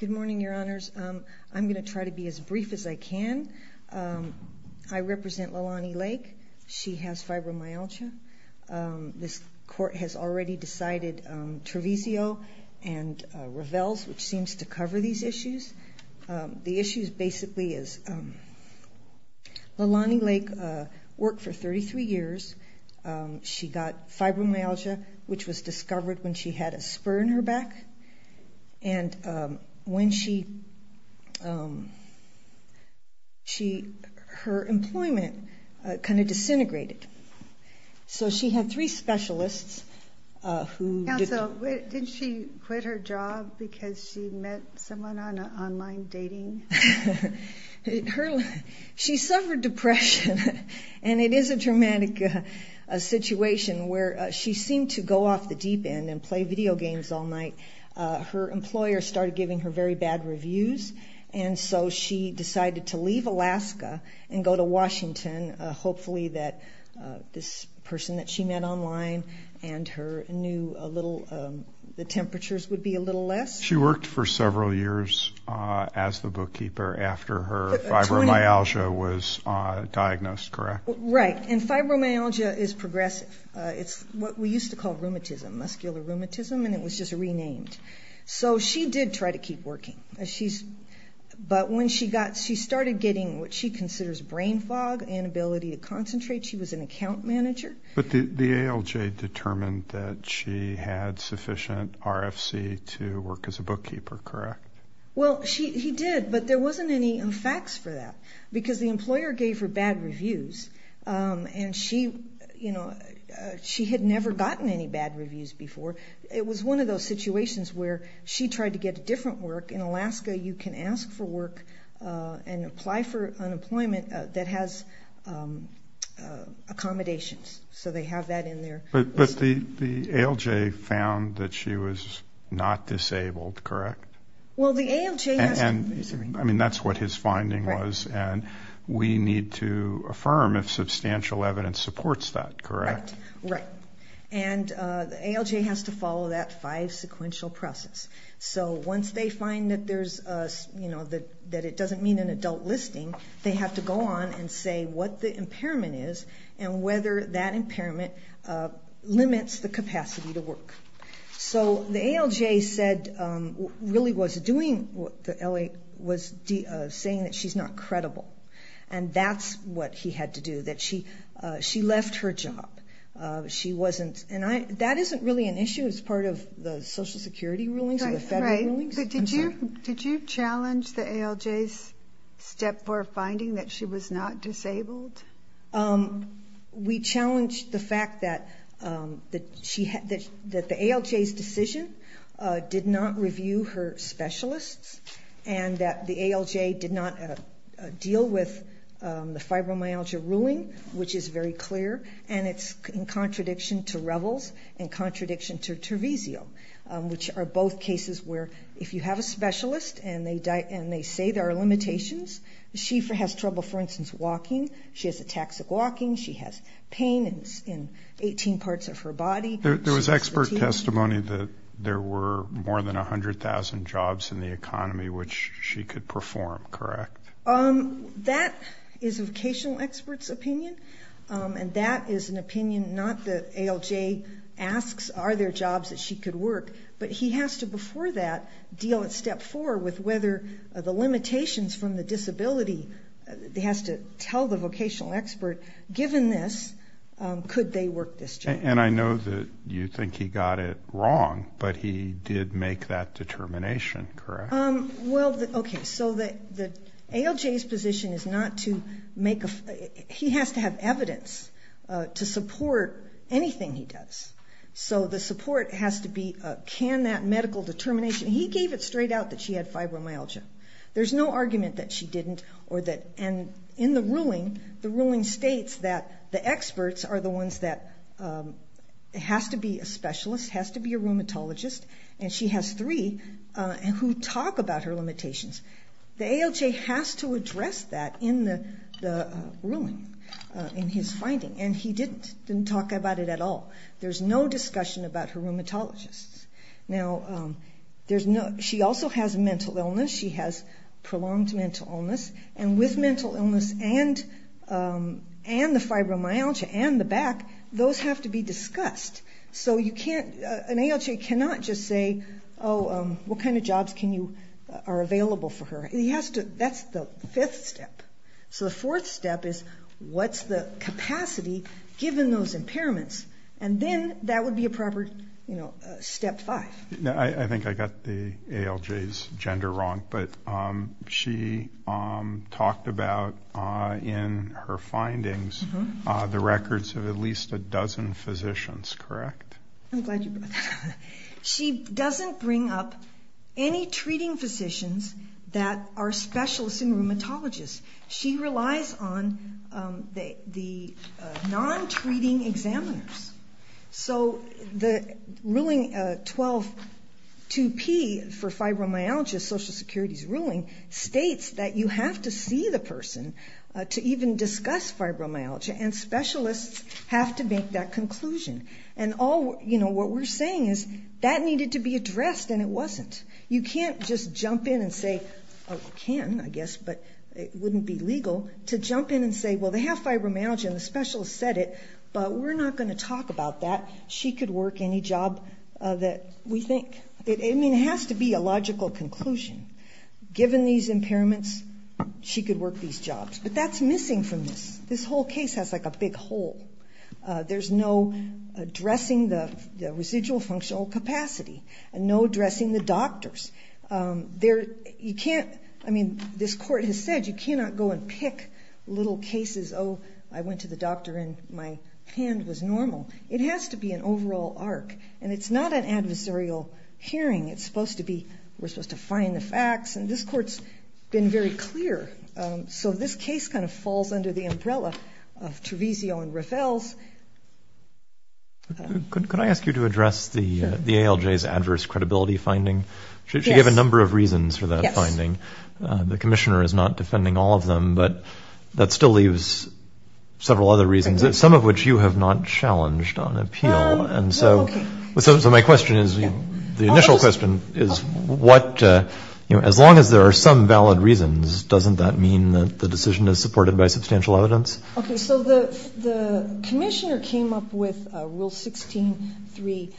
Good morning, Your Honors. I'm going to try to be as brief as I can. I represent Leilani Lake. She has fibromyalgia. This Court has already decided Treviso and Ravels, which fibromyalgia, which was discovered when she had a spur in her back. And when she, her employment kind of disintegrated. So she had three specialists who... Counsel, did she quit her job because she met someone on online dating? No. She suffered depression. And it is a dramatic situation where she seemed to go off the deep end and play video games all night. Her employer started giving her very bad reviews. And so she decided to leave Alaska and go to Washington. Hopefully that this person that she met online and her new little, the temperatures would be a little less. She worked for several years as the bookkeeper after her fibromyalgia was diagnosed, correct? Right. And fibromyalgia is progressive. It's what we used to call rheumatism, muscular rheumatism. And it was just renamed. So she did try to keep working. But when she got, she started getting what she considers brain fog, inability to concentrate. She was an account manager. But the ALJ determined that she had sufficient RFC to work as a bookkeeper, correct? Well, she did, but there wasn't any facts for that because the employer gave her bad reviews. And she, you know, she had never gotten any bad reviews before. It was one of those situations where she tried to get different work. In Alaska, you can ask for work and apply for unemployment that has accommodations. So they have that in there. But the ALJ found that she was not disabled, correct? Well, the ALJ has to... And I mean, that's what his finding was. And we need to affirm if substantial evidence supports that, correct? Right. And the ALJ has to follow that five sequential process. So once they find that there's, you know, that it doesn't mean an adult listing, they have to go on and say what the impairment is and whether that impairment limits the capacity to work. So the ALJ said, really was doing, was saying that she's not credible. And that's what he had to do, that she left her job. She wasn't, and I, that isn't really an issue as part of the Social Security rulings or the federal rulings. Did you challenge the ALJ's step four finding that she was not disabled? We challenged the fact that the ALJ's decision did not review her specialists and that the ALJ did not deal with the in contradiction to Revels, in contradiction to Teresio, which are both cases where if you have a specialist and they say there are limitations, she has trouble, for instance, walking. She has a toxic walking. She has pain in 18 parts of her body. There was expert testimony that there were more than 100,000 jobs in the economy, which she could perform, correct? That is a vocational expert's opinion, and that is an opinion not that ALJ asks, are there jobs that she could work? But he has to, before that, deal at step four with whether the limitations from the disability, he has to tell the vocational expert, given this, could they work this job? And I know that you think he got it wrong, but he did make that determination, correct? Well, okay, so the ALJ's position is not to make a, he has to have evidence to support anything he does. So the support has to be, can that medical determination, he gave it straight out that she had fibromyalgia. There's no argument that she didn't, or that, and in the ruling, the ruling states that the experts are the ones that, it has to be a specialist, it has to be a rheumatologist, and she has three who talk about her limitations. The ALJ has to address that in the ruling, in his finding, and he didn't, didn't talk about it at all. There's no discussion about her rheumatologists. Now, there's no, she also has those have to be discussed. So you can't, an ALJ cannot just say, oh, what kind of jobs can you, are available for her? He has to, that's the fifth step. So the fourth step is, what's the capacity, given those impairments? And then that would be a proper, you know, step five. I think I got the ALJ's gender wrong, but she talked about in her findings the records of at least a dozen physicians, correct? I'm glad you brought that up. She doesn't bring up any treating physicians that are specialists in rheumatologists. She relies on the non-treating examiners. So the ruling 12-2P for fibromyalgia, Social Security's ruling, states that you have to see the person to even discuss fibromyalgia, and specialists have to make that conclusion. And all, you know, what we're saying is that needed to be addressed, and it wasn't. You can't just jump in and say, oh, you can, I guess, but it wouldn't be legal, to jump in and say, well, they have fibromyalgia, and the specialist said it, but we're not going to talk about that. She could work any job that we think. I mean, it has to be a logical conclusion. Given these impairments, she could work these jobs. But that's missing from this. This whole case has like a big hole. There's no addressing the like little cases, oh, I went to the doctor and my hand was normal. It has to be an overall arc, and it's not an adversarial hearing. It's supposed to be, we're supposed to find the facts, and this court's been very clear. So this case kind of falls under the umbrella of Treviso and Rafel's. Can I ask you to address the ALJ's adverse credibility finding? She gave a number of reasons for that finding. The commissioner is not defending all of them, but that still leaves several other reasons, some of which you have not challenged on appeal. So my question is, the initial question is, as long as there are some valid reasons, doesn't that mean that the decision is up with Rule 16.3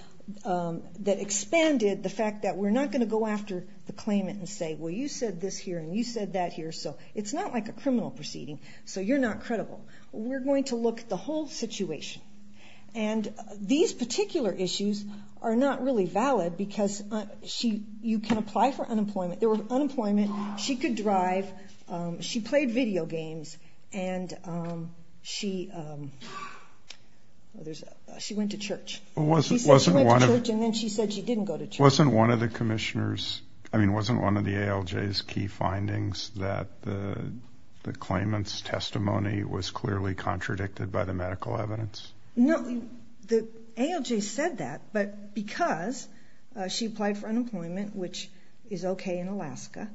that expanded the fact that we're not going to go after the claimant and say, well, you said this here, and you said that here, so it's not like a criminal proceeding, so you're not credible. We're going to look at the whole situation. And these particular issues are not really valid, because you can apply for unemployment. There were unemployment. She could drive. She played video games, and she went to church. She said she went to church, and then she said she didn't go to church. Wasn't one of the commissioners, I mean, wasn't one of the ALJ's key findings that the claimant's testimony was clearly contradicted by the medical evidence? No, the ALJ said that, but because she applied for unemployment, which is okay in Alaska.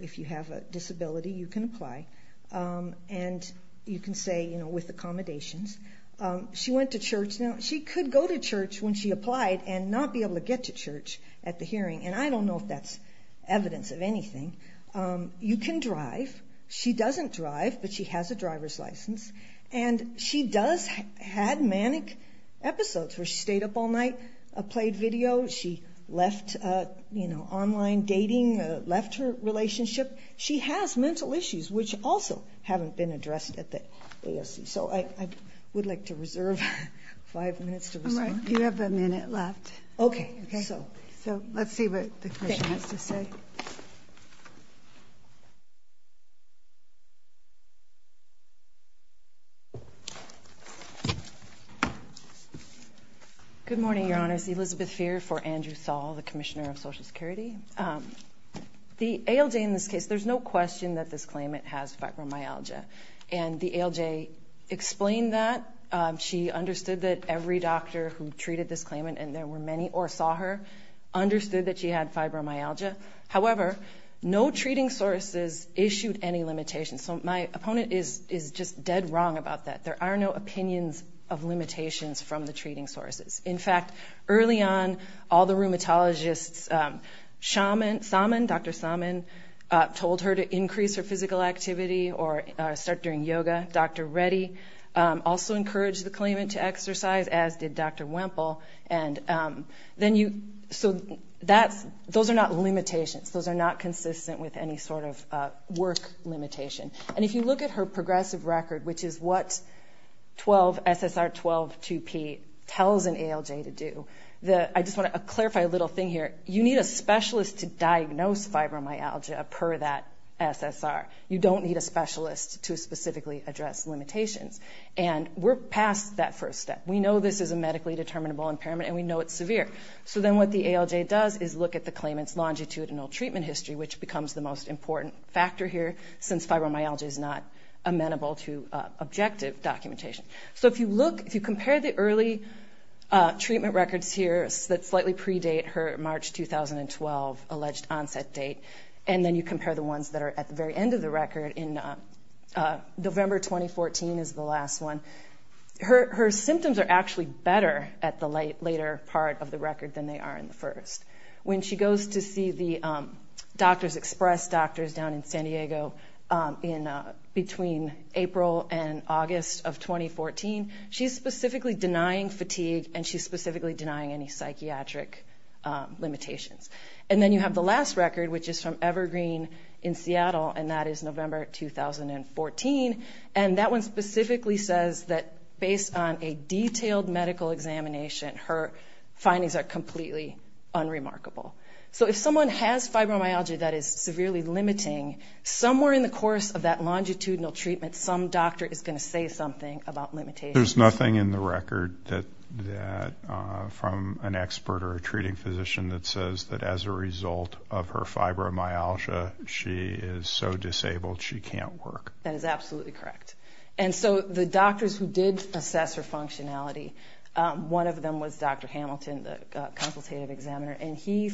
If you have a disability, you can apply. And you can say, you know, with accommodations. She went to church. Now, she could go to church when she applied and not be able to get to church at the hearing, and I don't know if that's evidence of anything. You can drive. She doesn't drive, but she has a driver's license, and she does have manic episodes where she stayed up all night, played video. She left, you know, online dating, left her relationship. She has mental issues, which also haven't been addressed at the ASC, so I would like to reserve five minutes to respond. You have a minute left. Okay. So let's see what the commission has to say. Good morning, Your Honors. Elizabeth Feer for Andrew Thal, the Commissioner of Social Security. The ALJ, in this case, there's no question that this claimant has fibromyalgia, and the ALJ explained that. She understood that every doctor who treated this claimant, and there were many or saw her, understood that she had fibromyalgia. However, no treating sources issued any limitations, so my opponent is just dead wrong about that. There are no opinions of limitations from the treating sources. In fact, early on, all the rheumatologists, Dr. Salmon told her to increase her physical activity or start doing yoga. Dr. Reddy also encouraged the claimant to exercise, as did Dr. Wemple. Those are not limitations. Those are not consistent with any sort of work limitation. And if you look at her progressive record, which is what SSR 12-2P tells an ALJ to do, I just want to clarify a little thing here. You need a specialist to diagnose fibromyalgia per that SSR. You don't need a specialist to specifically address limitations. And we're past that first step. We know this is a medically determinable impairment, and we know it's severe. So then what the ALJ does is look at the claimant's longitudinal treatment history, which becomes the most important factor here, since fibromyalgia is not amenable to objective documentation. So if you compare the early treatment records here that slightly predate her March 2012 alleged onset date, and then you compare the ones that are at the very end of the record in November 2014 is the last one, her symptoms are actually better at the later part of the record than they are in the first. When she goes to see the Doctors Express doctors down in San Diego between April and August of 2014, she's specifically denying fatigue, and she's specifically denying any psychiatric limitations. And then you have the last record, which is from Evergreen in Seattle, and that is November 2014, and that one specifically says that based on a detailed medical examination, her findings are completely unremarkable. So if someone has fibromyalgia that is severely limiting, somewhere in the course of that longitudinal treatment, some doctor is going to say something about limitations. There's nothing in the record from an expert or a treating physician that says that as a result of her fibromyalgia, she is so disabled she can't work. That is absolutely correct. And so the doctors who did assess her functionality, one of them was Dr. Hamilton, the consultative examiner, and he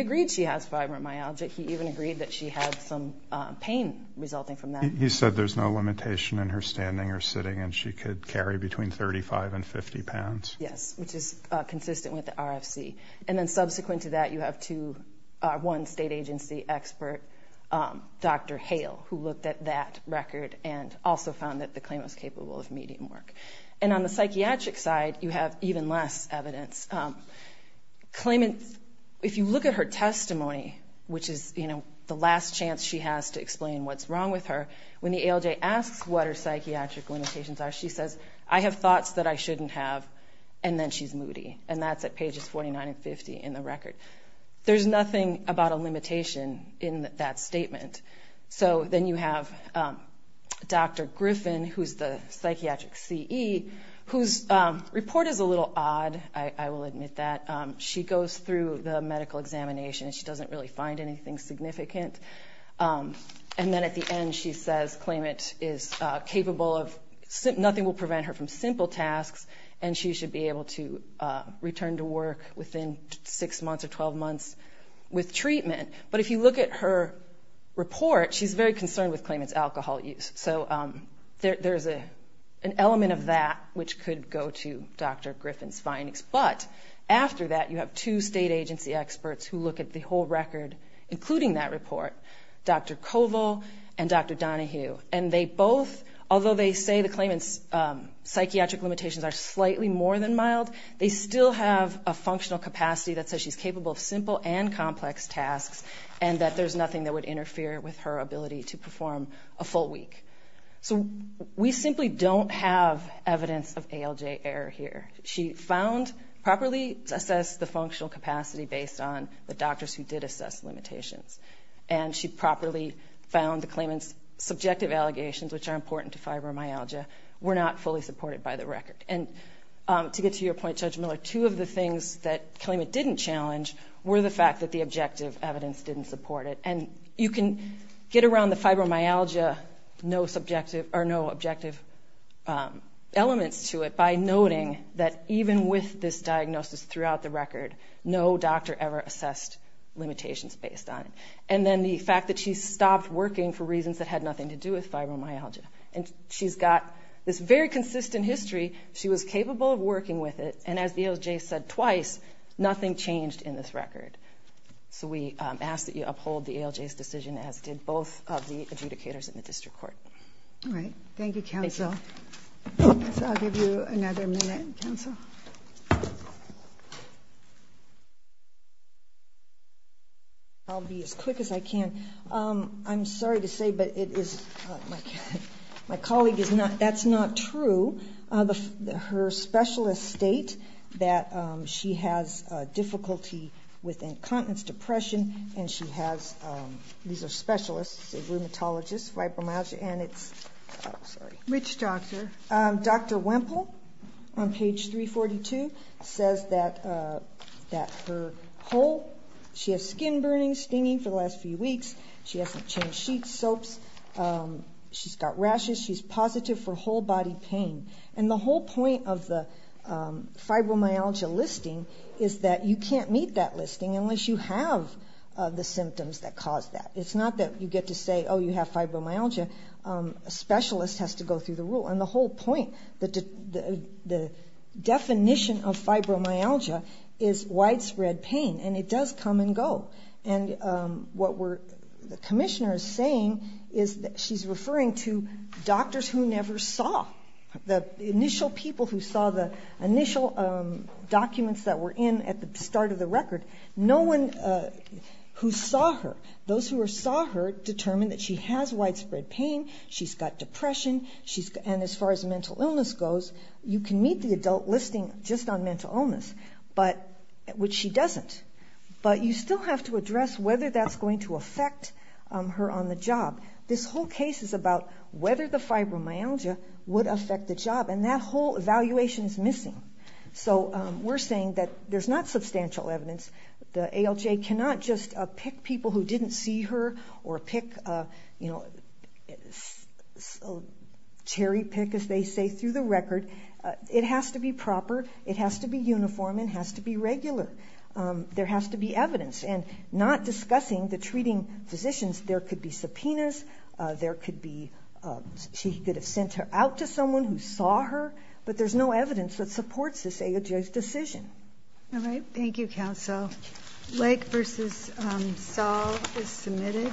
agreed she has fibromyalgia. He even agreed that she had some pain resulting from that. He said there's no limitation in her standing or sitting, and she could carry between 35 and 50 pounds. Yes, which is consistent with the RFC. And then subsequent to that, you have one state agency expert, Dr. Hale, who looked at that record and also found that the claimant was capable of medium work. And on the psychiatric side, you have even less evidence. Claimant, if you look at her testimony, which is the last chance she has to explain what's wrong with her, when the ALJ asks what her psychiatric limitations are, she says, I have thoughts that I shouldn't have, and then she's moody. And that's at pages 49 and 50 in the record. There's nothing about a limitation in that statement. So then you have Dr. Griffin, who's the psychiatric CE, whose report is a little odd, I will admit that. She goes through the medical examination, and she doesn't really find anything significant. And then at the end, she says claimant is capable of, nothing will prevent her from simple tasks, and she should be able to return to work within six months or 12 months with treatment. But if you look at her report, she's very concerned with claimant's alcohol use. So there's an element of that which could go to Dr. Griffin's findings. But after that, you have two state agency experts who look at the whole record, including that report, Dr. Koval and Dr. Donahue. And they both, although they say the claimant's psychiatric limitations are slightly more than mild, they still have a functional capacity that says she's capable of simple and complex tasks, and that there's nothing that would interfere with her ability to perform a full week. So we simply don't have evidence of ALJ error here. She found, properly assessed the functional capacity based on the doctors who did assess limitations. And she properly found the claimant's subjective allegations, which are important to fibromyalgia, were not fully supported by the record. And to get to your point, Judge Miller, two of the things that claimant didn't challenge were the fact that the objective evidence didn't support it. And you can get around the fibromyalgia no subjective or no objective elements to it by noting that even with this diagnosis throughout the record, no doctor ever assessed limitations based on it. And then the fact that she stopped working for reasons that had nothing to do with fibromyalgia. And she's got this very consistent history. She was capable of working with it. And as the ALJ said twice, nothing changed in this record. So we ask that you uphold the ALJ's decision, as did both of the adjudicators in the district court. All right. Thank you, counsel. I'll give you another minute, counsel. I'll be as quick as I can. I'm sorry to say, but my colleague, that's not true. Her specialists state that she has difficulty with incontinence, depression, and she has these are specialists, rheumatologists, fibromyalgia, and it's Sorry. Which doctor? Dr. Wempel on page 342 says that her whole, she has skin burning, stinging for the last few weeks. She hasn't changed sheets, soaps. She's got rashes. She's positive for whole body pain. And the whole point of the fibromyalgia listing is that you can't meet that listing unless you have the symptoms that cause that. It's not that you get to say, oh, you have fibromyalgia. A specialist has to go through the rule. And the whole point, the definition of fibromyalgia is widespread pain. And it does come and go. And what the commissioner is saying is that she's referring to doctors who never saw. The initial people who saw the initial documents that were in at the start of the record, no one who saw her, those who saw her determined that she has widespread pain. She's got depression. And as far as mental illness goes, you can meet the adult listing just on mental illness, which she doesn't. But you still have to address whether that's going to affect her on the job. This whole case is about whether the fibromyalgia would affect the job. And that whole evaluation is missing. So we're saying that there's not substantial evidence. The ALJ cannot just pick people who didn't see her or pick, you know, cherry pick, as they say, through the record. It has to be proper. It has to be uniform. It has to be regular. There has to be evidence. And not discussing the treating physicians, there could be subpoenas. There could be she could have sent her out to someone who saw her. But there's no evidence that supports this ALJ's decision. All right. Thank you, counsel. Lake versus Saul is submitted.